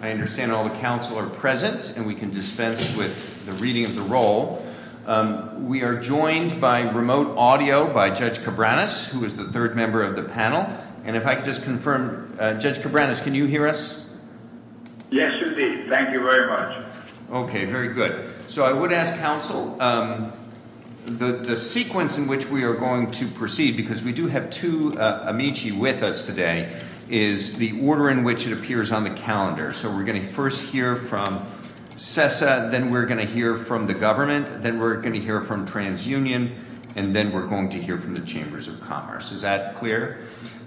I understand all the Council are present and we can dispense with the reading of the roll. We are joined by remote audio by Judge Cabranes, who is the third member of the panel. And if I could just confirm, Judge Cabranes, can you hear us? Yes, you can. Thank you very much. Okay, very good. So I would ask Council, the sequence in which we are going to proceed, because we do have two amici with us today, is the order in which it appears on the calendar. So we're going to first hear from Sessa, then we're going to hear from the government, then we're going to hear from TransUnion, and then we're going to hear from the Chambers of Commerce. Is that clear?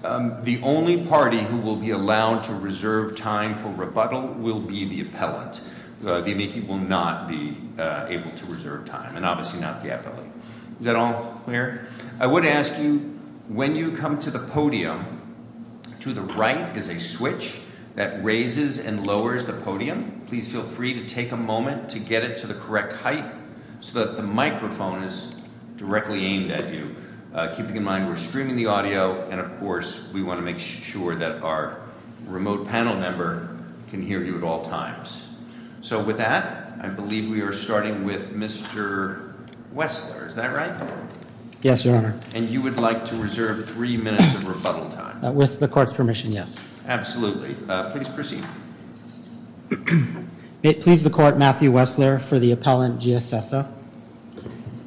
The only party who will be allowed to reserve time for rebuttal will be the appellant. The amici will not be able to reserve time, and obviously not the appellant. Is that all clear? I would ask you, when you come to the podium, to the right is a switch that raises and lowers the podium. Please feel free to take a moment to get it to the correct height so that the microphone is directly aimed at you. Keeping in mind, we're streaming the audio, and of course, we want to make sure that our remote panel member can hear you at all times. So with that, I believe we are starting with Mr. Wessler, is that right? Yes, your honor. And you would like to reserve three minutes of rebuttal time. With the court's permission, yes. Absolutely, please proceed. May it please the court, Matthew Wessler for the appellant, Gia Sessa.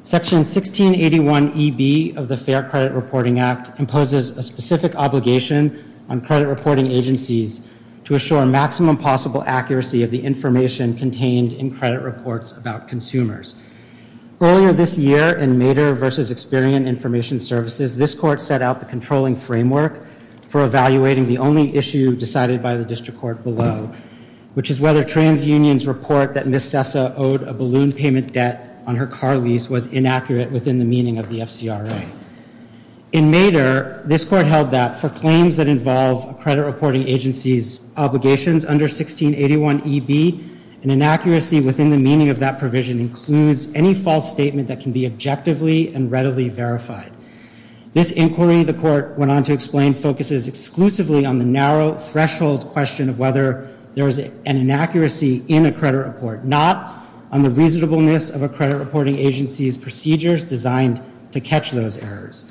Section 1681EB of the Fair Credit Reporting Act imposes a specific obligation on credit reporting agencies to assure maximum possible accuracy of the information contained in credit reports about consumers. Earlier this year, in Mater versus Experian Information Services, this court set out the controlling framework for evaluating the only issue decided by the district court below, which is whether TransUnion's report that Ms. Sessa owed a balloon payment debt on her car lease was inaccurate within the meaning of the FCRA. In Mater, this court held that for claims that involve a credit reporting agency's obligations under 1681EB, an inaccuracy within the meaning of that provision includes any false statement that can be objectively and readily verified. This inquiry, the court went on to explain, focuses exclusively on the narrow threshold question of whether there is an inaccuracy in a credit report, not on the reasonableness of a credit reporting agency's errors.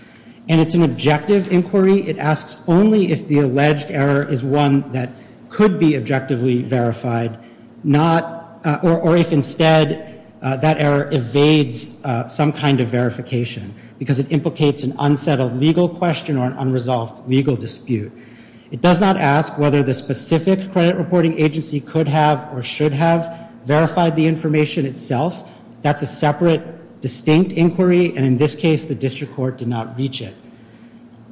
And it's an objective inquiry. It asks only if the alleged error is one that could be objectively verified, not, or if instead that error evades some kind of verification because it implicates an unsettled legal question or an unresolved legal dispute. It does not ask whether the specific credit reporting agency could have or should have verified the information itself. That's a separate, distinct inquiry. And in this case, the district court did not reach it.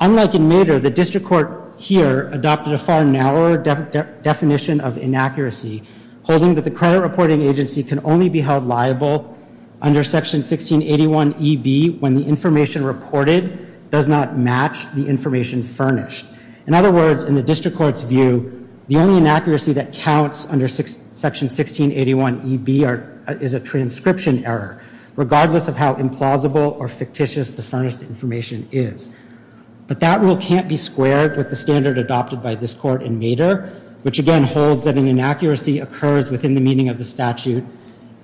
Unlike in Mater, the district court here adopted a far narrower definition of inaccuracy, holding that the credit reporting agency can only be held liable under section 1681EB when the information reported does not match the information furnished. In other words, in the district court's view, the only inaccuracy that counts under section 1681EB is a transcription error, regardless of how implausible or fictitious the furnished information is. But that rule can't be squared with the standard adopted by this court in Mater, which again holds that an inaccuracy occurs within the meaning of the statute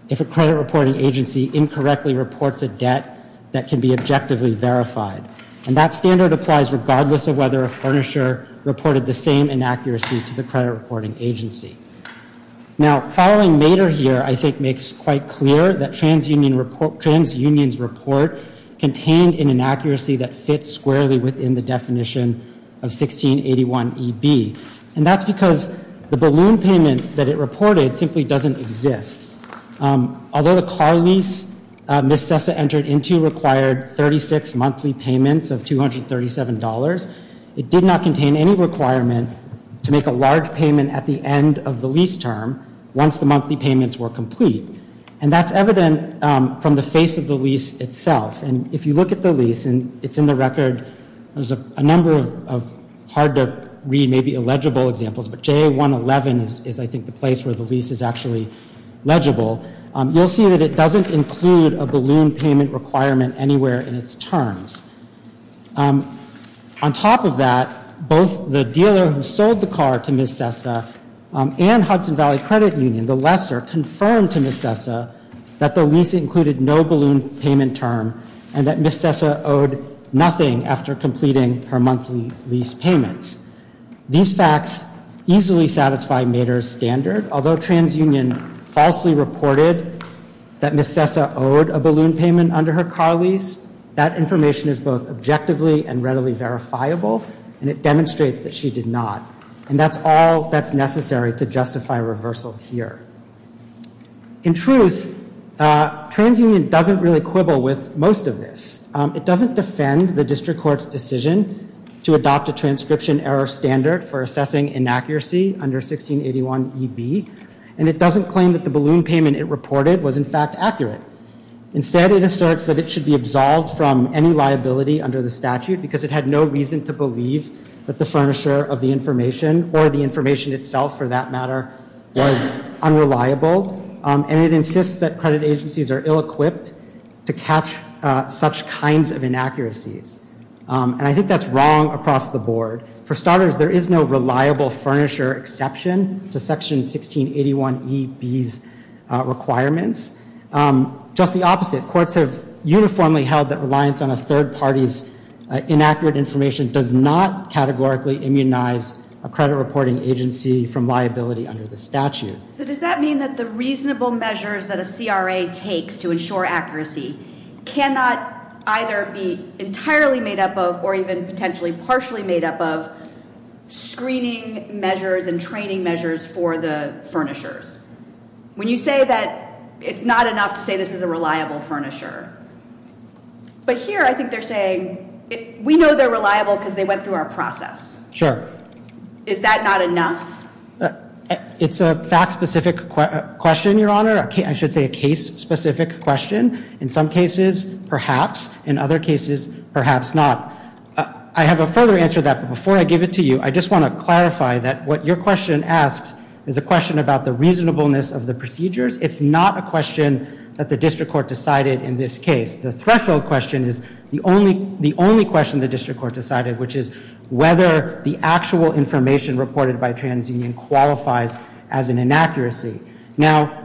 if a credit reporting agency incorrectly reports a debt that can be objectively verified. And that standard applies regardless of whether a furnisher reported the same inaccuracy to the credit reporting agency. Now, following Mater here, I think makes quite clear that TransUnion's report contained an inaccuracy that fits squarely within the definition of 1681EB. And that's because the balloon payment that it reported simply doesn't exist. Although the car lease Ms. Sessa entered into required 36 monthly payments of $237, it did not contain any requirement to make a large payment at the end of the lease term once the monthly payments were complete. And that's evident from the face of the lease itself. And if you look at the lease, and it's in the record, there's a number of hard to read, maybe illegible examples, but JA111 is I think the place where the lease is actually legible. You'll see that it doesn't include a balloon payment requirement anywhere in its terms. On top of that, both the dealer who sold the car to Ms. Sessa and Hudson Valley Credit Union, the lesser, confirmed to Ms. Sessa that the lease included no balloon payment term and that Ms. Sessa owed nothing after completing her monthly lease payments. These facts easily satisfy Mater's standard. Although TransUnion falsely reported that Ms. Sessa owed a balloon payment under her car lease, that information is both objectively and readily verifiable, and it demonstrates that she did not. And that's all that's necessary to justify reversal here. In truth, TransUnion doesn't really quibble with most of this. It doesn't defend the district court's decision to adopt a transcription error standard for assessing inaccuracy under 1681EB, and it doesn't claim that the balloon payment it reported was in fact accurate. Instead, it asserts that it should be absolved from any liability under the statute because it had no reason to believe that the furnisher of the information, or the information itself for that matter, was unreliable, and it insists that credit agencies are ill-equipped to catch such kinds of inaccuracies. And I think that's wrong across the board. For starters, there is no reliable furnisher exception to section 1681EB's requirements. Just the opposite, courts have uniformly held that reliance on a third party's inaccurate information does not categorically immunize a credit reporting agency from liability under the statute. So does that mean that the reasonable measures that a CRA takes to ensure accuracy cannot either be entirely made up of, or even potentially partially made up of, screening measures and training measures for the furnishers? When you say that it's not enough to say this is a reliable furnisher, but here I think they're saying we know they're reliable because they went through our process. Sure. Is that not enough? It's a fact-specific question, Your Honor. I should say a case-specific question. In some cases, perhaps. In other cases, perhaps not. I have a further answer to that, but before I give it to you, I just want to clarify that what your question asks is a question about the reasonableness of the procedures. It's not a question that the district court decided in this case. The threshold question is the only question the district court decided, which is whether the actual information reported by TransUnion qualifies as an inaccuracy. Now,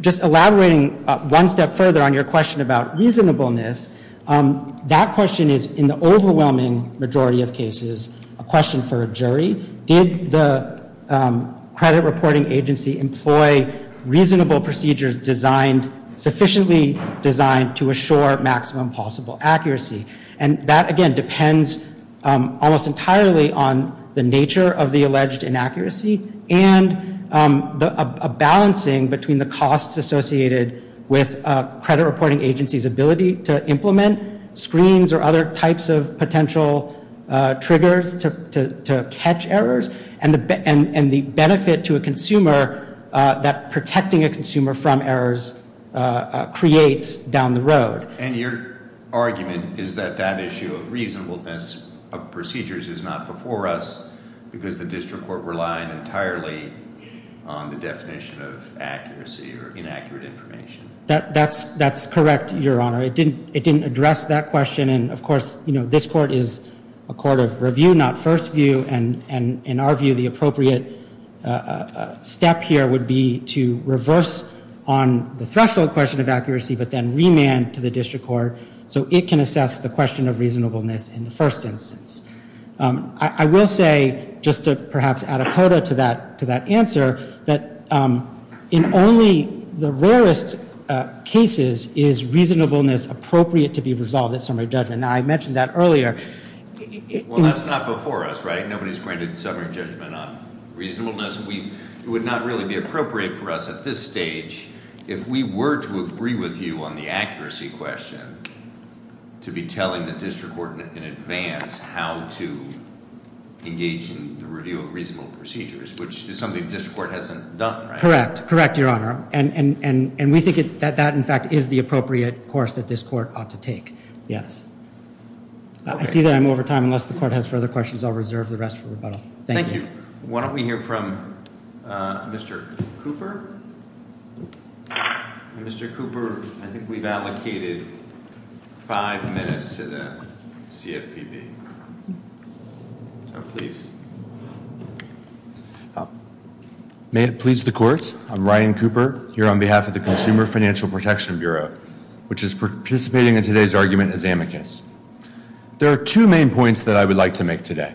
just elaborating one step further on your question about reasonableness, that question is, in the overwhelming majority of cases, a question for a jury. Did the credit reporting agency employ reasonable procedures designed, sufficiently designed, to assure maximum possible accuracy? And that, again, depends almost entirely on the nature of the alleged inaccuracy and a balancing between the costs associated with a credit reporting agency's ability to implement screens or other types of potential triggers to catch errors, and the benefit to a consumer that protecting a consumer from errors creates down the road. And your argument is that that issue of reasonableness of procedures is not before us because the district court relied entirely on the definition of accuracy or inaccurate information. That's correct, Your Honor. It didn't address that question, and of course, you know, this court is a court of review, not first view, and in our view, the appropriate step here would be to reverse on the threshold question of accuracy, but then remand to the district court so it can assess the question of reasonableness in the first instance. I will say, just to perhaps add a quota to that answer, that in only the rarest cases is reasonableness appropriate to be resolved at summary judgment. Now, I mentioned that earlier. Well, that's not before us, right? Nobody's granted summary judgment on reasonableness. It would not really be appropriate for us at this stage if we were to agree with you on the accuracy question to be telling the district court in advance how to engage in the review of reasonable procedures, which is something the district court hasn't done, right? Correct. Correct, Your Honor. And we think that that, in fact, is the appropriate course that this court ought to take. Yes. I see that I'm over time. Unless the court has further questions, I'll reserve the rest for rebuttal. Thank you. Why don't we hear from Mr. Cooper? Mr. Cooper, I think we've allocated five minutes to the CFPB. So, please. May it please the court, I'm Ryan Cooper here on behalf of the Consumer Financial Protection Bureau, which is participating in today's argument as amicus. There are two main points that I would like to make today.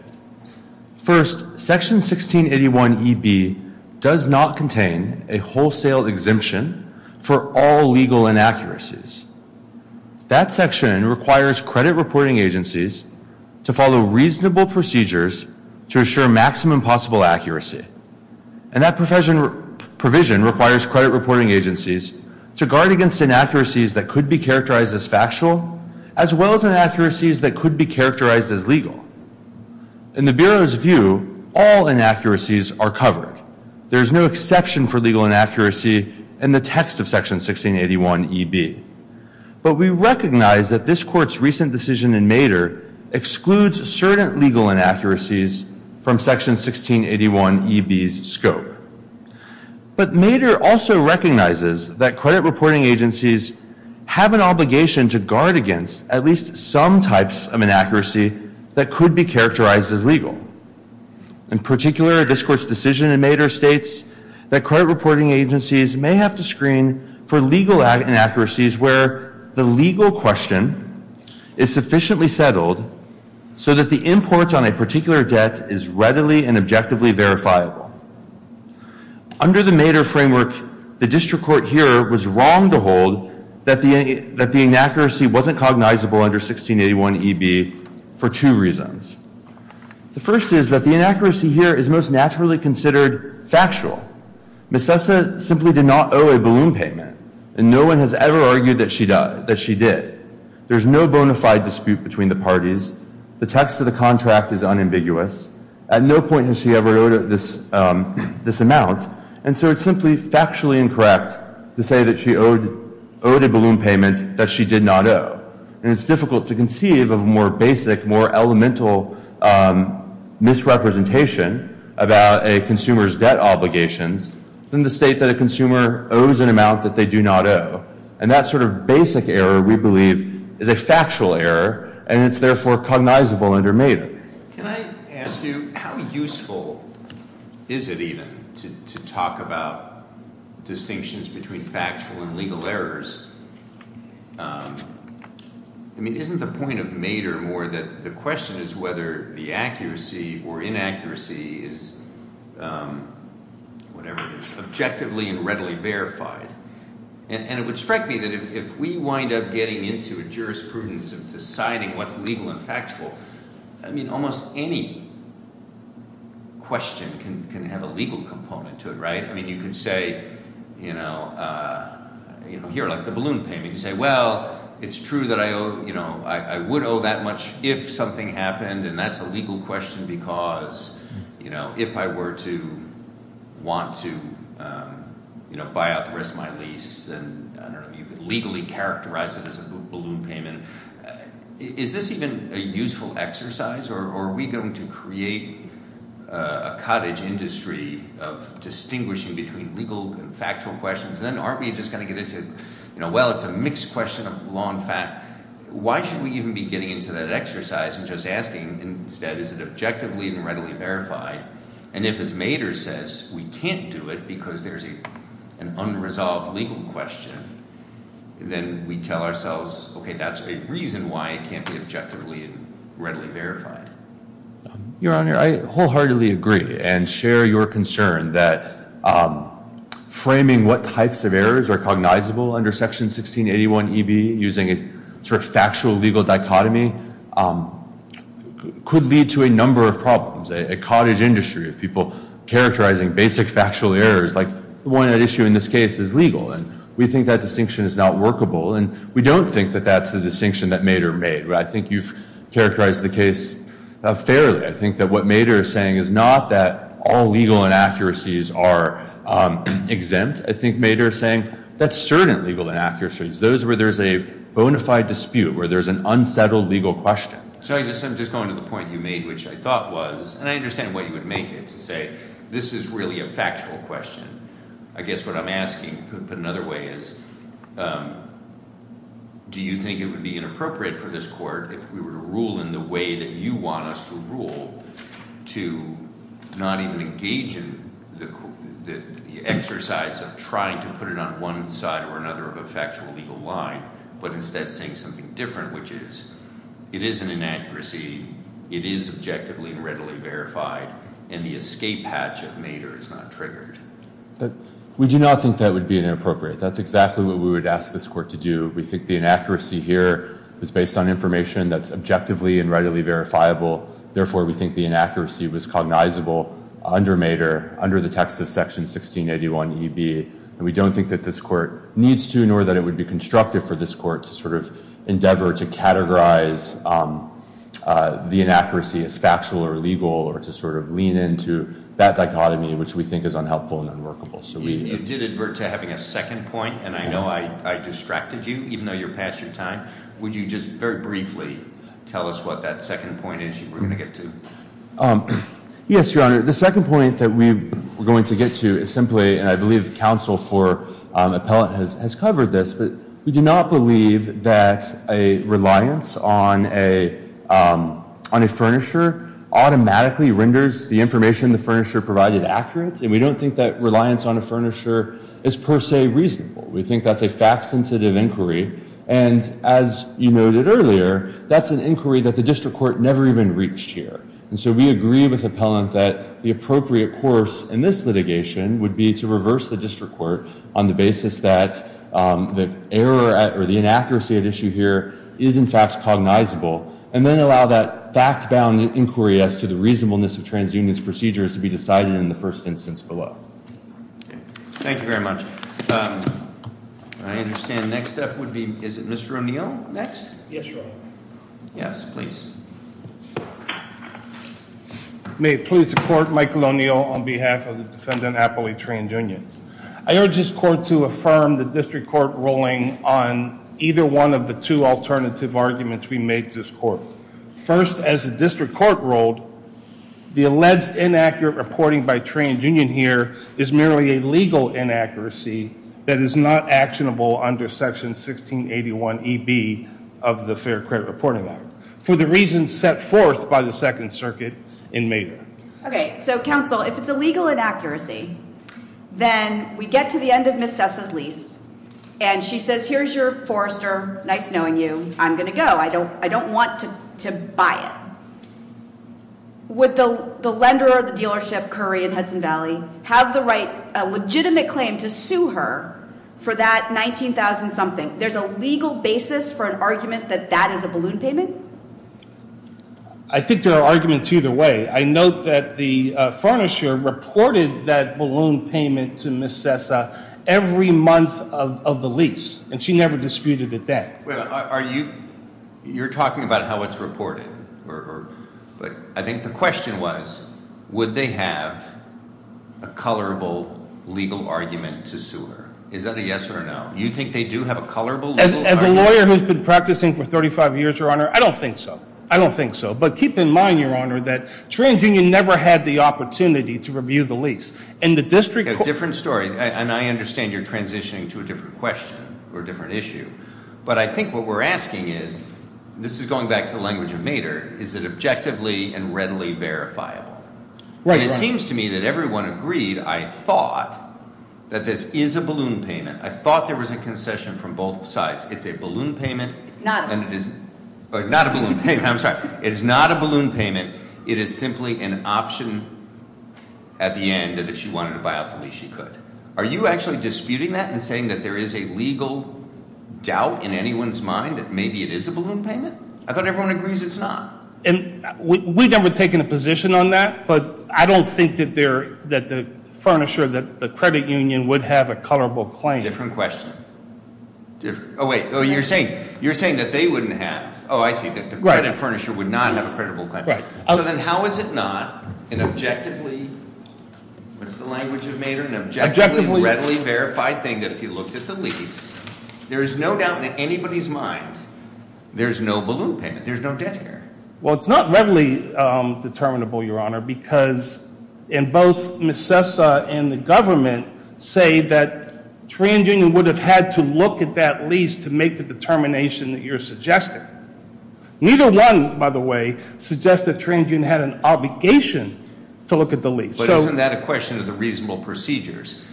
First, section 1681EB does not contain a wholesale exemption for all legal inaccuracies. That section requires credit reporting agencies to follow reasonable procedures to assure maximum possible accuracy. And that provision requires credit reporting agencies to guard against inaccuracies that could be characterized as factual, as well as inaccuracies that could be characterized as legal. In the legal inaccuracy in the text of section 1681EB. But we recognize that this court's recent decision in Maeder excludes certain legal inaccuracies from section 1681EB's scope. But Maeder also recognizes that credit reporting agencies have an obligation to guard against at least some types of inaccuracy that could be characterized as legal. In particular, this court's decision in that credit reporting agencies may have to screen for legal inaccuracies where the legal question is sufficiently settled so that the import on a particular debt is readily and objectively verifiable. Under the Maeder framework, the district court here was wrong to hold that the inaccuracy wasn't cognizable under 1681EB for two reasons. The first is that the inaccuracy here is most naturally considered factual. Ms. Sessa simply did not owe a balloon payment. And no one has ever argued that she did. There's no bona fide dispute between the parties. The text of the contract is unambiguous. At no point has she ever owed this amount. And so it's simply factually incorrect to say that she owed a balloon payment that she did not owe. And it's difficult to conceive of a more basic, more elemental misrepresentation about a consumer's debt obligations than to state that a consumer owes an amount that they do not owe. And that sort of basic error, we believe, is a factual error, and it's therefore cognizable under Maeder. Can I ask you, how useful is it even to talk about distinctions between factual and legal errors? I mean, isn't the point of Maeder more that the question is whether the accuracy or inaccuracy is whatever it is, objectively and readily verified? And it would strike me that if we wind up getting into a jurisprudence of deciding what's legal and factual, I mean, almost any question can have a balloon payment. You say, well, it's true that I would owe that much if something happened, and that's a legal question because if I were to want to buy out the rest of my lease, then, I don't know, you could legally characterize it as a balloon payment. Is this even a useful exercise, or are we going to create a cottage industry of distinguishing between legal and factual? Well, it's a mixed question of law and fact. Why should we even be getting into that exercise and just asking instead, is it objectively and readily verified? And if, as Maeder says, we can't do it because there's an unresolved legal question, then we tell ourselves, okay, that's a reason why it can't be objectively and readily verified. Your Honor, I wholeheartedly agree and share your concern that framing what types of errors are cognizable under Section 1681 E.B. using a sort of factual-legal dichotomy could lead to a number of problems. A cottage industry of people characterizing basic factual errors, like the one at issue in this case is legal, and we think that distinction is not workable, and we don't think that that's the distinction that Maeder made, but I think you've characterized the case fairly. I think that what Maeder is saying is not that all legal and inaccuracies are exempt. I think Maeder is saying that's certain legal inaccuracies, those where there's a bona fide dispute, where there's an unsettled legal question. So I'm just going to the point you made, which I thought was, and I understand what you would make it to say, this is really a factual question. I guess what I'm asking, put another way, is do you think it would be inappropriate for this the exercise of trying to put it on one side or another of a factual-legal line, but instead saying something different, which is it is an inaccuracy, it is objectively and readily verified, and the escape hatch of Maeder is not triggered? We do not think that would be inappropriate. That's exactly what we would ask this Court to do. We think the inaccuracy here is based on information that's objectively and readily verifiable, therefore we think the inaccuracy was cognizable under Maeder, under the text of Section 1681 E.B., and we don't think that this Court needs to, nor that it would be constructive for this Court to sort of endeavor to categorize the inaccuracy as factual or legal, or to sort of lean into that dichotomy, which we think is unhelpful and unworkable. You did advert to having a second point, and I know I distracted you, even though you're past your time. Would you just very briefly tell us what that second point is you were going to get to? Yes, Your Honor, the second point that we were going to get to is simply, and I believe counsel for appellate has covered this, but we do not believe that a reliance on a on a furnisher automatically renders the information the furnisher provided accurate, and we don't think that reliance on a furnisher is per se reasonable. We think that's a fact-sensitive inquiry, and as you noted earlier, that's an inquiry that the District Court never even reached here, and so we agree with appellant that the appropriate course in this litigation would be to reverse the District Court on the basis that the error or the inaccuracy at issue here is in fact cognizable, and then allow that fact-bound inquiry as to the reasonableness of TransUnion's procedures to be decided in the first instance below. Thank you very much. I understand the next step would be, is it Mr. O'Neill next? Yes, Your Honor. Yes, please. May it please the court, Michael O'Neill on behalf of the defendant appellate TransUnion. I urge this court to affirm the District Court ruling on either one of the two alternative arguments we made to this court. First, as the District Court ruled, the alleged inaccurate reporting by TransUnion here is merely a legal inaccuracy that is not actionable under Section 1681 E.B. of the Fair Credit Reporting Act, for the reasons set forth by the Second Circuit in Mayor. Okay, so counsel, if it's a legal inaccuracy, then we get to the end of Ms. Sessa's lease, and she says, here's your Forester. Nice knowing you. I'm going to go. I don't want to buy it. Would the lender or the dealership, Curry and Hudson Valley, have the right, a legitimate claim to sue her for that $19,000 something? There's a legal basis for an argument that that is a balloon payment? I think there are arguments either way. I note that the Furnisher reported that balloon payment to Ms. Sessa every month of the lease, and she never disputed it then. Are you, you're talking about how it's reported, or, but I think the question was, would they have a colorable legal argument to sue her? Is that a yes or a no? You think they do have a colorable? As a lawyer who's been practicing for 35 years, Your Honor, I don't think so. I don't think so, but keep in mind, Your Honor, that TransUnion never had the opportunity to review the lease, and the District Court... A different story, and I understand you're transitioning to a different question, or a different issue, but I think what we're asking is, this is going back to the language of Maeder, is it objectively and readily verifiable? Right. And it seems to me that everyone agreed, I thought, that this is a balloon payment. I thought there was a concession from both sides. It's a balloon payment. It's not. And it is not a balloon payment. I'm sorry. It is not a balloon payment. It is simply an option at the end that if she wanted to buy out the lease, she could. Are you actually disputing that and saying that there is a legal doubt in anyone's mind that maybe it is a balloon payment? I thought everyone agrees it's not. And we've never taken a position on that, but I don't think that the furniture, that the credit union, would have a colorable claim. Different question. Oh, wait. Oh, you're saying that they wouldn't have. Oh, I see. That the credit furniture would not have a creditable claim. Right. So then how is it not an objectively, what's the language of Maeder, an objectively and readily verified thing that if you looked at the lease, there is no doubt in anybody's mind, there's no balloon payment. There's no debt here. Well, it's not readily determinable, Your Honor, because in both Ms. Sessa and the government say that TransUnion would have had to look at that lease to make the determination that you're suggesting. Neither one, by the way, suggests that TransUnion had an obligation to look at the lease. But isn't that a question of the reasonable procedures?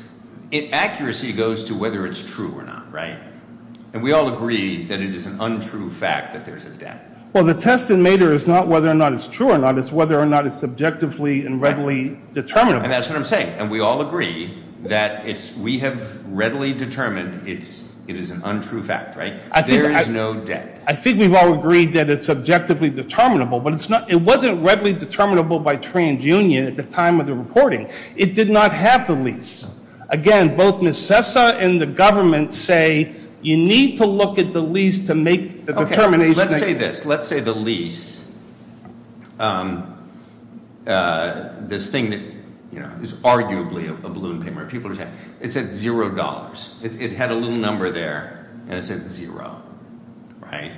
Accuracy goes to whether it's true or not, right? And we all agree that it is an untrue fact that there's a debt. Well, the test in Maeder is not whether or not it's true or not, it's whether or not it's subjectively and readily determinable. And that's what I'm saying. And we all agree that we have readily determined it is an untrue fact, right? There is no debt. I think we've all TransUnion at the time of the recording. It did not have the lease. Again, both Ms. Sessa and the government say you need to look at the lease to make the determination. Okay, let's say this. Let's say the lease, this thing that, you know, is arguably a balloon payment. People are saying it's at zero dollars. It had a little number there and it said zero, right?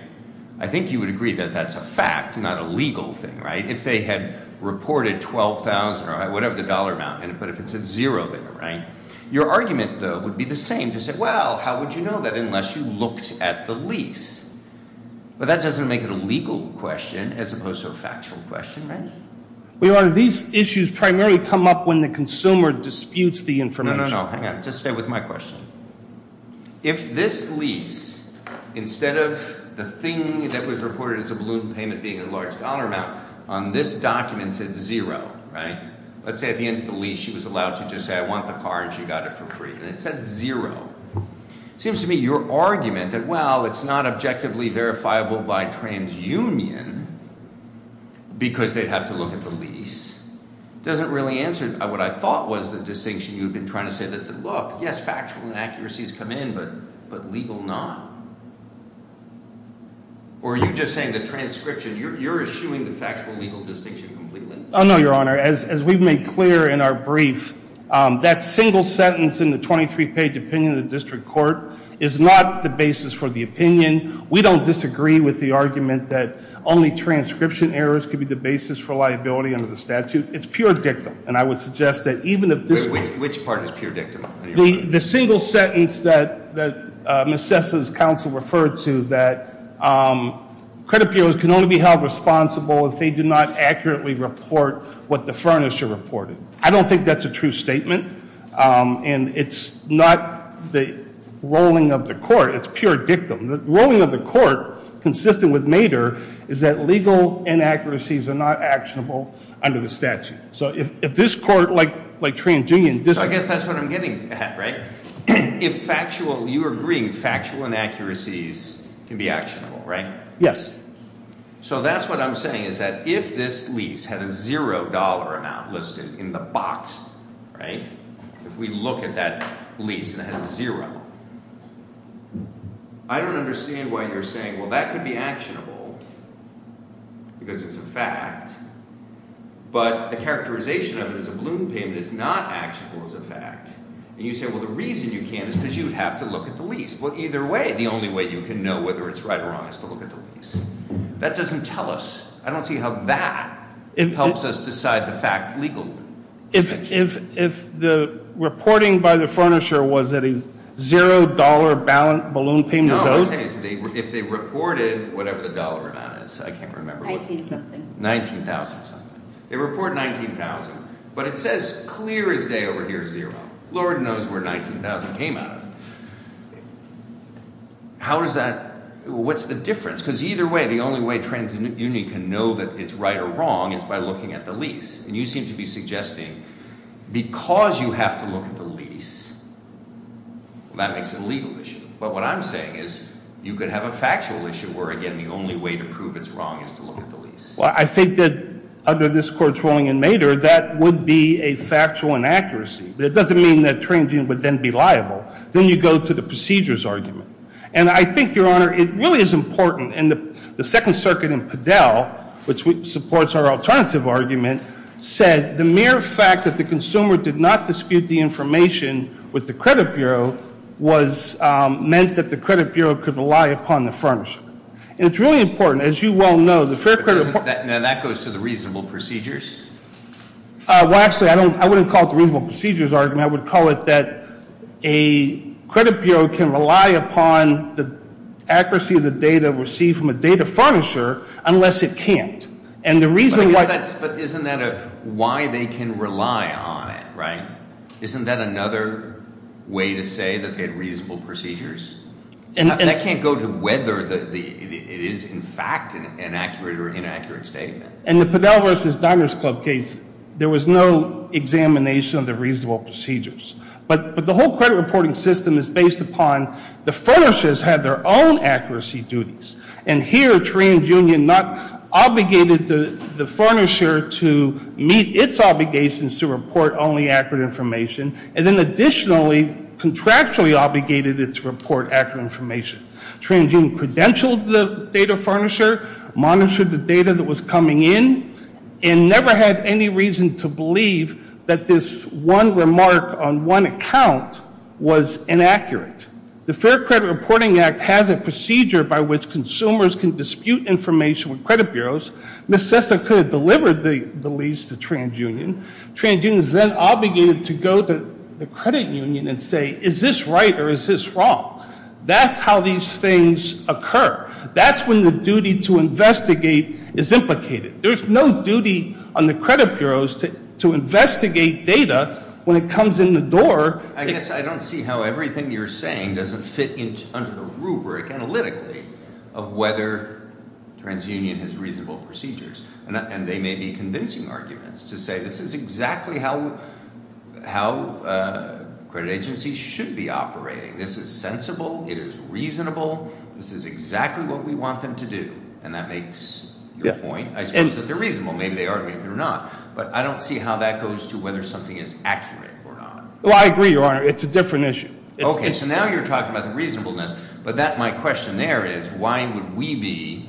I think you would agree that that's a fact, not a legal thing, right? If they had reported $12,000 or whatever the dollar amount, but if it said zero there, right? Your argument, though, would be the same to say, well, how would you know that unless you looked at the lease? But that doesn't make it a legal question as opposed to a factual question, right? Well, Your Honor, these issues primarily come up when the consumer disputes the information. No, no, no. Hang on. Just stay with my question. If this lease, instead of the thing that was reported as a balloon payment being a large dollar amount, on this document said zero, right? Let's say at the end of the lease she was allowed to just say, I want the car and she got it for free. And it said zero. Seems to me your argument that, well, it's not objectively verifiable by TransUnion because they'd have to look at the lease, doesn't really answer what I thought was the distinction you've been trying to say that look, yes, factual inaccuracies come in, but legal not. Or are you just saying the transcription, you're eschewing the factual legal distinction completely? Oh, no, Your Honor. As we've made clear in our brief, that single sentence in the 23-page opinion of the district court is not the basis for the opinion. We don't disagree with the argument that only transcription errors could be the basis for liability under the statute. It's pure dictum. And I would suggest that even if this... Which part is pure dictum? The single sentence that Ms. Cessna's counsel referred to, that credit bureaus can only be held responsible if they do not accurately report what the furnisher reported. I don't think that's a true statement. And it's not the rolling of the court, it's pure dictum. The rolling of the court, consistent with Mader, is that legal inaccuracies are not actionable under the statute. So if this court, like Trangian District... So I guess that's what I'm getting at, right? If factual... You're agreeing factual inaccuracies can be actionable, right? Yes. So that's what I'm saying, is that if this lease had a zero dollar amount listed in the box, right? If we look at that lease and it has zero. I don't understand why you're saying, well, that could be actionable because it's a fact, but the characterization of it as a balloon payment is not actionable as a fact. And you say, well, the reason you can't is because you'd have to look at the lease. Well, either way, the only way you can know whether it's right or wrong is to look at the lease. That doesn't tell us. I don't see how that helps us decide the fact legally. If the reporting by the furnisher was that a zero dollar balloon payment was owed? No, I'm saying if they reported whatever the dollar amount is, I can't remember. 19 something. 19,000 something. They report 19,000, but it says clear as day over here, zero. Lord knows where 19,000 came out of. How does that... What's the difference? Because either way, the only way TransUnion can know that it's right or wrong is by looking at the lease. And you seem to be suggesting because you have to look at the lease, that makes it a legal issue. But what I'm saying is you could have a factual issue where, again, the only way to prove it's wrong is to look at the lease. Well, I think that under this court's ruling in Mader, that would be a factual inaccuracy. But it doesn't mean that TransUnion would then be liable. Then you go to the procedures argument. And I think, Your Honor, it really is important. And the Second Circuit in Padel, which supports our alternative argument, said the mere fact that the consumer did not dispute the information with the credit bureau meant that the credit bureau could rely upon the furnisher. And it's really important. As you well know, the fair credit... Now, that goes to the reasonable procedures? Well, actually, I wouldn't call it the reasonable procedures argument. I would call it that a credit bureau can rely upon the accuracy of the data received from a data furnisher unless it can't. And the reason why... But isn't that why they can rely on it, right? Isn't that another way to say that they had reasonable procedures? That can't go to whether it is, in fact, an accurate or inaccurate statement. In the Padel v. Diners Club case, there was no examination of the reasonable procedures. But the whole credit reporting system is based upon the furnishers had their own accuracy duties. And here, TransUnion not obligated the furnisher to meet its obligations to report only accurate information and then additionally contractually obligated it to report accurate information. TransUnion credentialed the data furnisher, monitored the data that was coming in, and never had any reason to believe that this one remark on one account was inaccurate. The Fair Credit Reporting Act has a procedure by which consumers can dispute information with credit bureaus. Ms. Sessa could have delivered the lease to TransUnion. TransUnion is then obligated to go to the credit union and say, is this right or is this wrong? That's how these things occur. That's when the duty to investigate is implicated. There's no duty on the credit bureaus to investigate data when it comes in the door. I guess I don't see how everything you're saying doesn't fit under the rubric analytically of whether TransUnion has reasonable procedures. And they may be convincing arguments to say this is exactly how credit agencies should be operating. This is sensible. It is reasonable. This is exactly what we want them to do. And that makes your point. I suppose that they're reasonable. Maybe they are. Maybe they're not. But I don't see how that goes to whether something is accurate or not. Well, I agree, Your Honor. It's a different issue. Okay. So now you're talking about the reasonableness. But my question there is, why would we be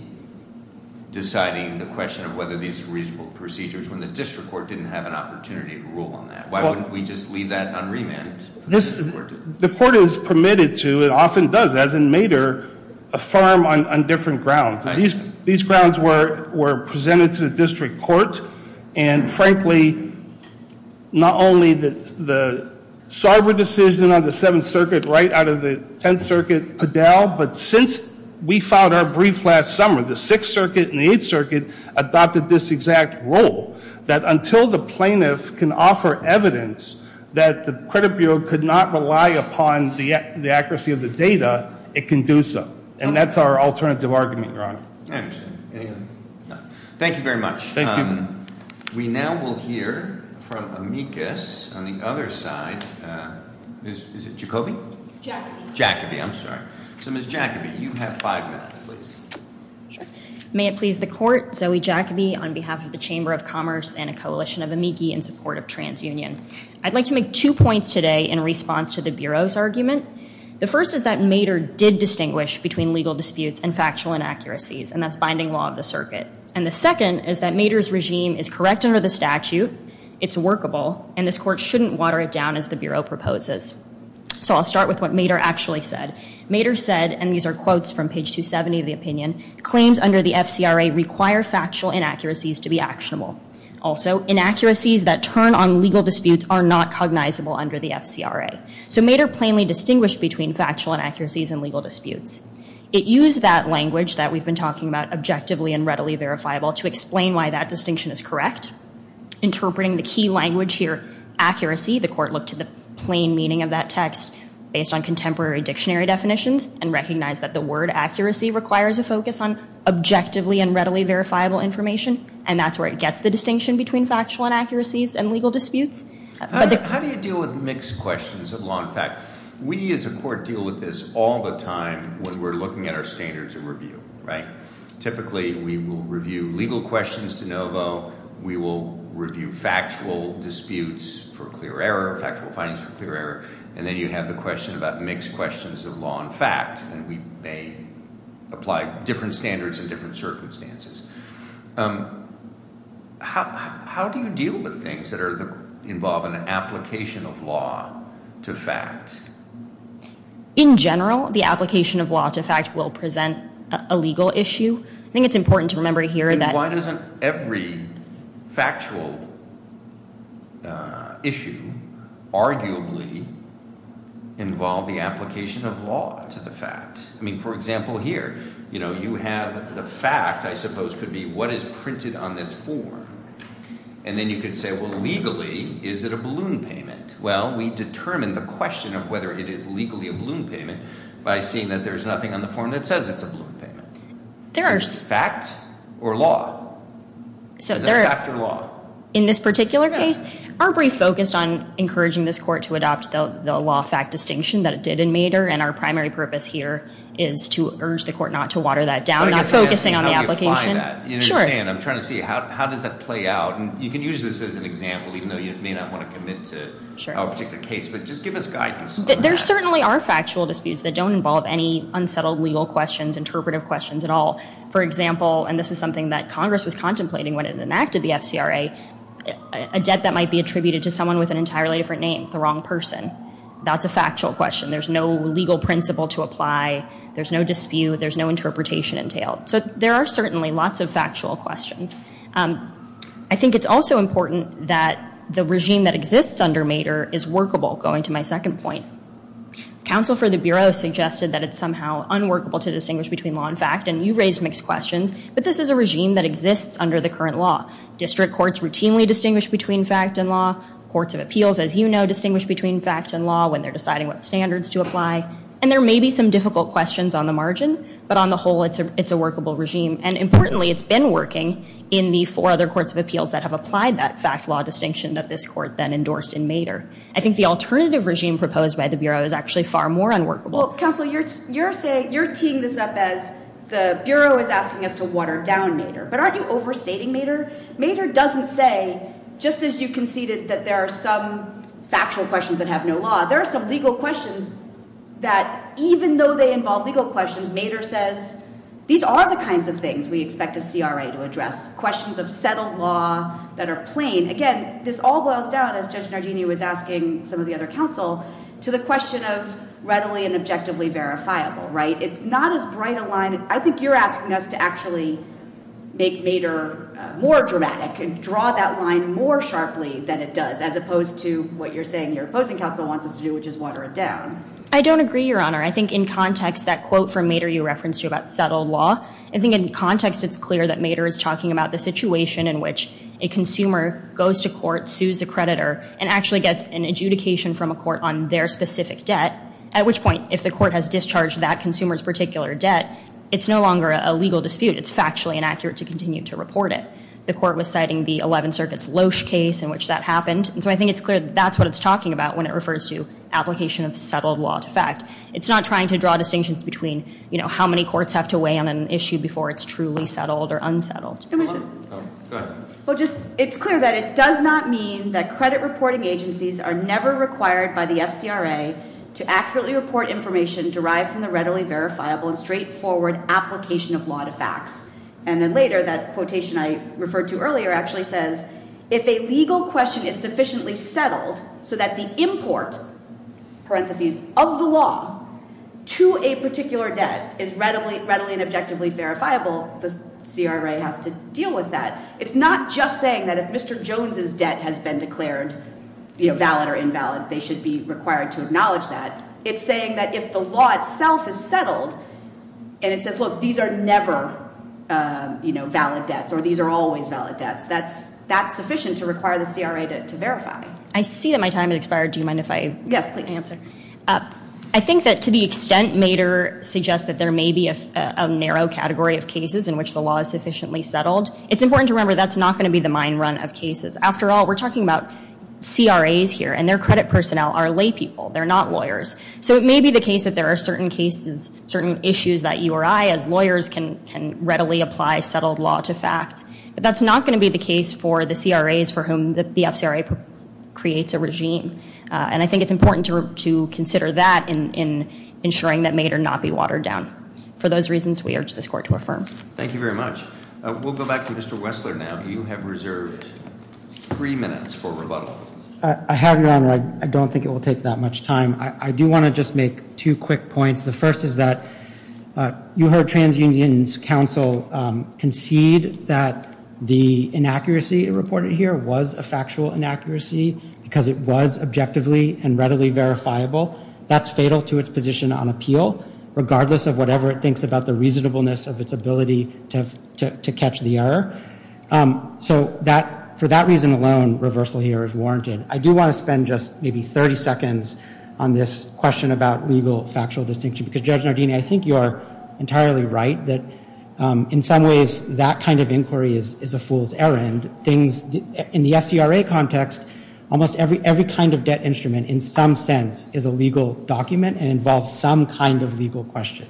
deciding the question of whether these are reasonable procedures when the district court didn't have an opportunity to rule on that? Why wouldn't we just leave that unremanded? The court is permitted to, and often does, as in Mater, affirm on different grounds. These grounds were presented to the district court. And frankly, not only the Sarver decision on the summer, the Sixth Circuit and the Eighth Circuit adopted this exact rule, that until the plaintiff can offer evidence that the credit bureau could not rely upon the accuracy of the data, it can do so. And that's our alternative argument, Your Honor. I understand. Thank you very much. We now will hear from amicus on the other side. Is it Jacoby? Jacoby. Jacoby. I'm sorry. So Ms. Jacoby, you have five minutes, please. May it please the court. Zoe Jacoby on behalf of the Chamber of Commerce and a coalition of amici in support of TransUnion. I'd like to make two points today in response to the Bureau's argument. The first is that Mater did distinguish between legal disputes and factual inaccuracies, and that's binding law of the circuit. And the second is that Mater's regime is correct under the statute. It's workable. And this court shouldn't water it down as the Bureau proposes. So I'll start with what Mater actually said. Mater said, and these are quotes from page 270 of the opinion, claims under the FCRA require factual inaccuracies to be actionable. Also, inaccuracies that turn on legal disputes are not cognizable under the FCRA. So Mater plainly distinguished between factual inaccuracies and legal disputes. It used that language that we've been talking about, objectively and readily verifiable, to explain why that distinction is correct. Interpreting the key language here, accuracy, the court looked at the plain meaning of that text based on contemporary dictionary definitions and recognized that the word accuracy requires a focus on objectively and readily verifiable information, and that's where it gets the distinction between factual inaccuracies and legal disputes. How do you deal with mixed questions of law and fact? We as a court deal with this all the time when we're looking at our standards of review, right? Typically we will review legal questions de novo, we will review factual disputes for clear error, factual findings for clear error, and then you have the question about mixed questions of law and fact, and we may apply different standards in different circumstances. How do you deal with things that involve an application of law to fact? In general, the application of law to fact will present a legal issue. I think it's important to remember here that... And why doesn't every factual issue arguably involve the application of law to the fact? I mean, for example, here, you know, you have the fact, I suppose, could be what is printed on this form, and then you could say, well, legally, is it a balloon payment? Well, we determine the question of whether it is legally a balloon payment by seeing that there's nothing on the form that says it's a balloon payment. Is this fact or law? Is it fact or law? In this particular case, our brief focused on encouraging this court to adopt the law-fact distinction that it did in Mader, and our primary purpose here is to urge the court not to water that down, not focusing on the application. I'm trying to see how does that play out, and you can use this as an example, even There certainly are factual disputes that don't involve any unsettled legal questions, interpretive questions at all. For example, and this is something that Congress was contemplating when it enacted the FCRA, a debt that might be attributed to someone with an entirely different name, the wrong person. That's a factual question. There's no legal principle to apply. There's no dispute. There's no interpretation entailed. So there are certainly lots of factual questions. I think it's also important that the regime that exists under Mader is workable, going to my second point. Counsel for the Bureau suggested that it's somehow unworkable to distinguish between law and fact, and you raised mixed questions, but this is a regime that exists under the current law. District courts routinely distinguish between fact and law. Courts of appeals, as you know, distinguish between fact and law when they're deciding what standards to apply, and there may be some difficult questions on the margin, but on the whole, it's a workable regime, and importantly, it's been working in the four other courts of appeals that have applied that proposed by the Bureau is actually far more unworkable. Counsel, you're teeing this up as the Bureau is asking us to water down Mader, but aren't you overstating Mader? Mader doesn't say, just as you conceded that there are some factual questions that have no law, there are some legal questions that even though they involve legal questions, Mader says, these are the kinds of things we expect a CRA to address, questions of settled law that are plain. Again, this all boils down, as Judge Nardini was asking some of the other counsel, to the question of readily and objectively verifiable, right? It's not as bright a line. I think you're asking us to actually make Mader more dramatic and draw that line more sharply than it does, as opposed to what you're saying your opposing counsel wants us to do, which is water it down. I don't agree, Your Honor. I think in context, that quote from Mader you referenced about settled law, I think in context, it's clear that Mader is talking about the situation in which a consumer goes to court, sues a creditor, and actually gets an adjudication from a court on their specific debt, at which point if the court has discharged that consumer's particular debt, it's no longer a legal dispute. It's factually inaccurate to continue to report it. The court was citing the Eleventh Circuit's Loesch case in which that happened, and so I think it's clear that that's what it's talking about when it refers to application of settled law to fact. It's not trying to draw distinctions between, you know, how many courts have to weigh on an issue before it's truly settled or unsettled. It's clear that it does not mean that credit reporting agencies are never required by the FCRA to accurately report information derived from the readily verifiable and straightforward application of law to facts, and then later that quotation I referred to earlier actually says, if a legal question is sufficiently settled so that the CRA has to deal with that. It's not just saying that if Mr. Jones's debt has been declared valid or invalid, they should be required to acknowledge that. It's saying that if the law itself is settled and it says, look, these are never valid debts or these are always valid debts, that's sufficient to require the CRA to verify. I see that my time has expired. Do you mind if I answer? Yes, please. I think that to the extent Mader suggests that there may be a narrow category of cases in which the law is sufficiently settled, it's important to remember that's not going to be the mind run of cases. After all, we're talking about CRAs here and their credit personnel are laypeople. They're not lawyers. So it may be the case that there are certain cases, certain issues that you or I as lawyers can readily apply settled law to facts, but that's not going to be the case for the CRAs for whom the FCRA creates a regime. And I think it's important to consider that in ensuring that Mader not be watered down. For those reasons, we urge this court to affirm. Thank you very much. We'll go back to Mr. Wessler now. You have reserved three minutes for rebuttal. I have, Your Honor. I don't think it will take that much time. I do want to just make two quick points. The first is that you heard TransUnion's counsel concede that the inaccuracy reported here was a factual inaccuracy because it was objectively and readily verifiable. That's fatal to its position on appeal, regardless of whatever it is, the reasonableness of its ability to catch the error. So for that reason alone, reversal here is warranted. I do want to spend just maybe 30 seconds on this question about legal factual distinction because, Judge Nardini, I think you are entirely right that in some ways that kind of inquiry is a fool's errand. In the FCRA context, almost every kind of debt instrument in some document involves some kind of legal question.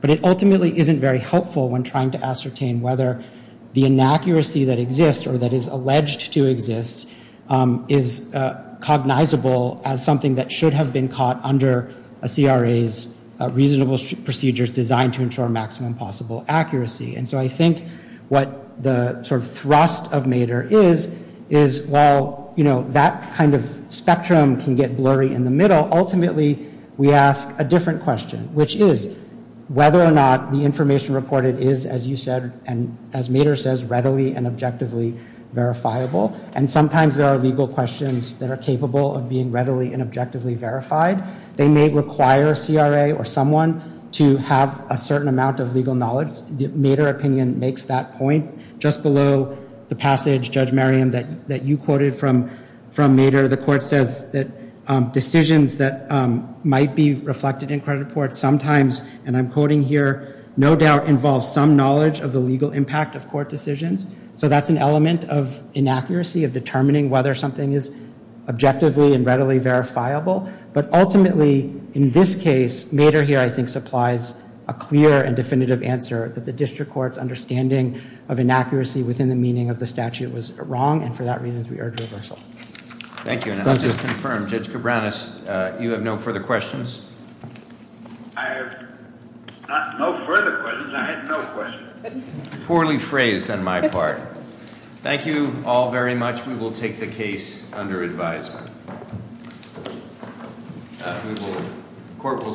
But it ultimately isn't very helpful when trying to ascertain whether the inaccuracy that exists or that is alleged to exist is cognizable as something that should have been caught under a CRA's reasonable procedures designed to ensure maximum possible accuracy. And so I think what the sort of thrust of Mader is, is while, you know, that kind of spectrum can get blurry in the middle, ultimately we ask a different question, which is whether or not the information reported is, as you said, and as Mader says, readily and objectively verifiable. And sometimes there are legal questions that are capable of being readily and objectively verified. They may require a CRA or someone to have a certain amount of legal knowledge. The Mader opinion makes that point. Just below the passage, Judge Merriam, that you quoted from Mader, the court says that decisions that might be reflected in credit reports sometimes, and I'm quoting here, no doubt involve some knowledge of the legal impact of court decisions. So that's an element of inaccuracy of determining whether something is objectively and readily verifiable. But ultimately, in this case, Mader here I think supplies a clear and definitive answer that the district court's understanding of inaccuracy within the meaning of the statute was wrong, and for that reason, we urge reversal. Thank you. And I'll just confirm, Judge Cabranes, you have no further questions? I have no further questions. I have no questions. Poorly phrased on my part. Thank you all very much. We will take the case under advisement. Court will stand adjourned.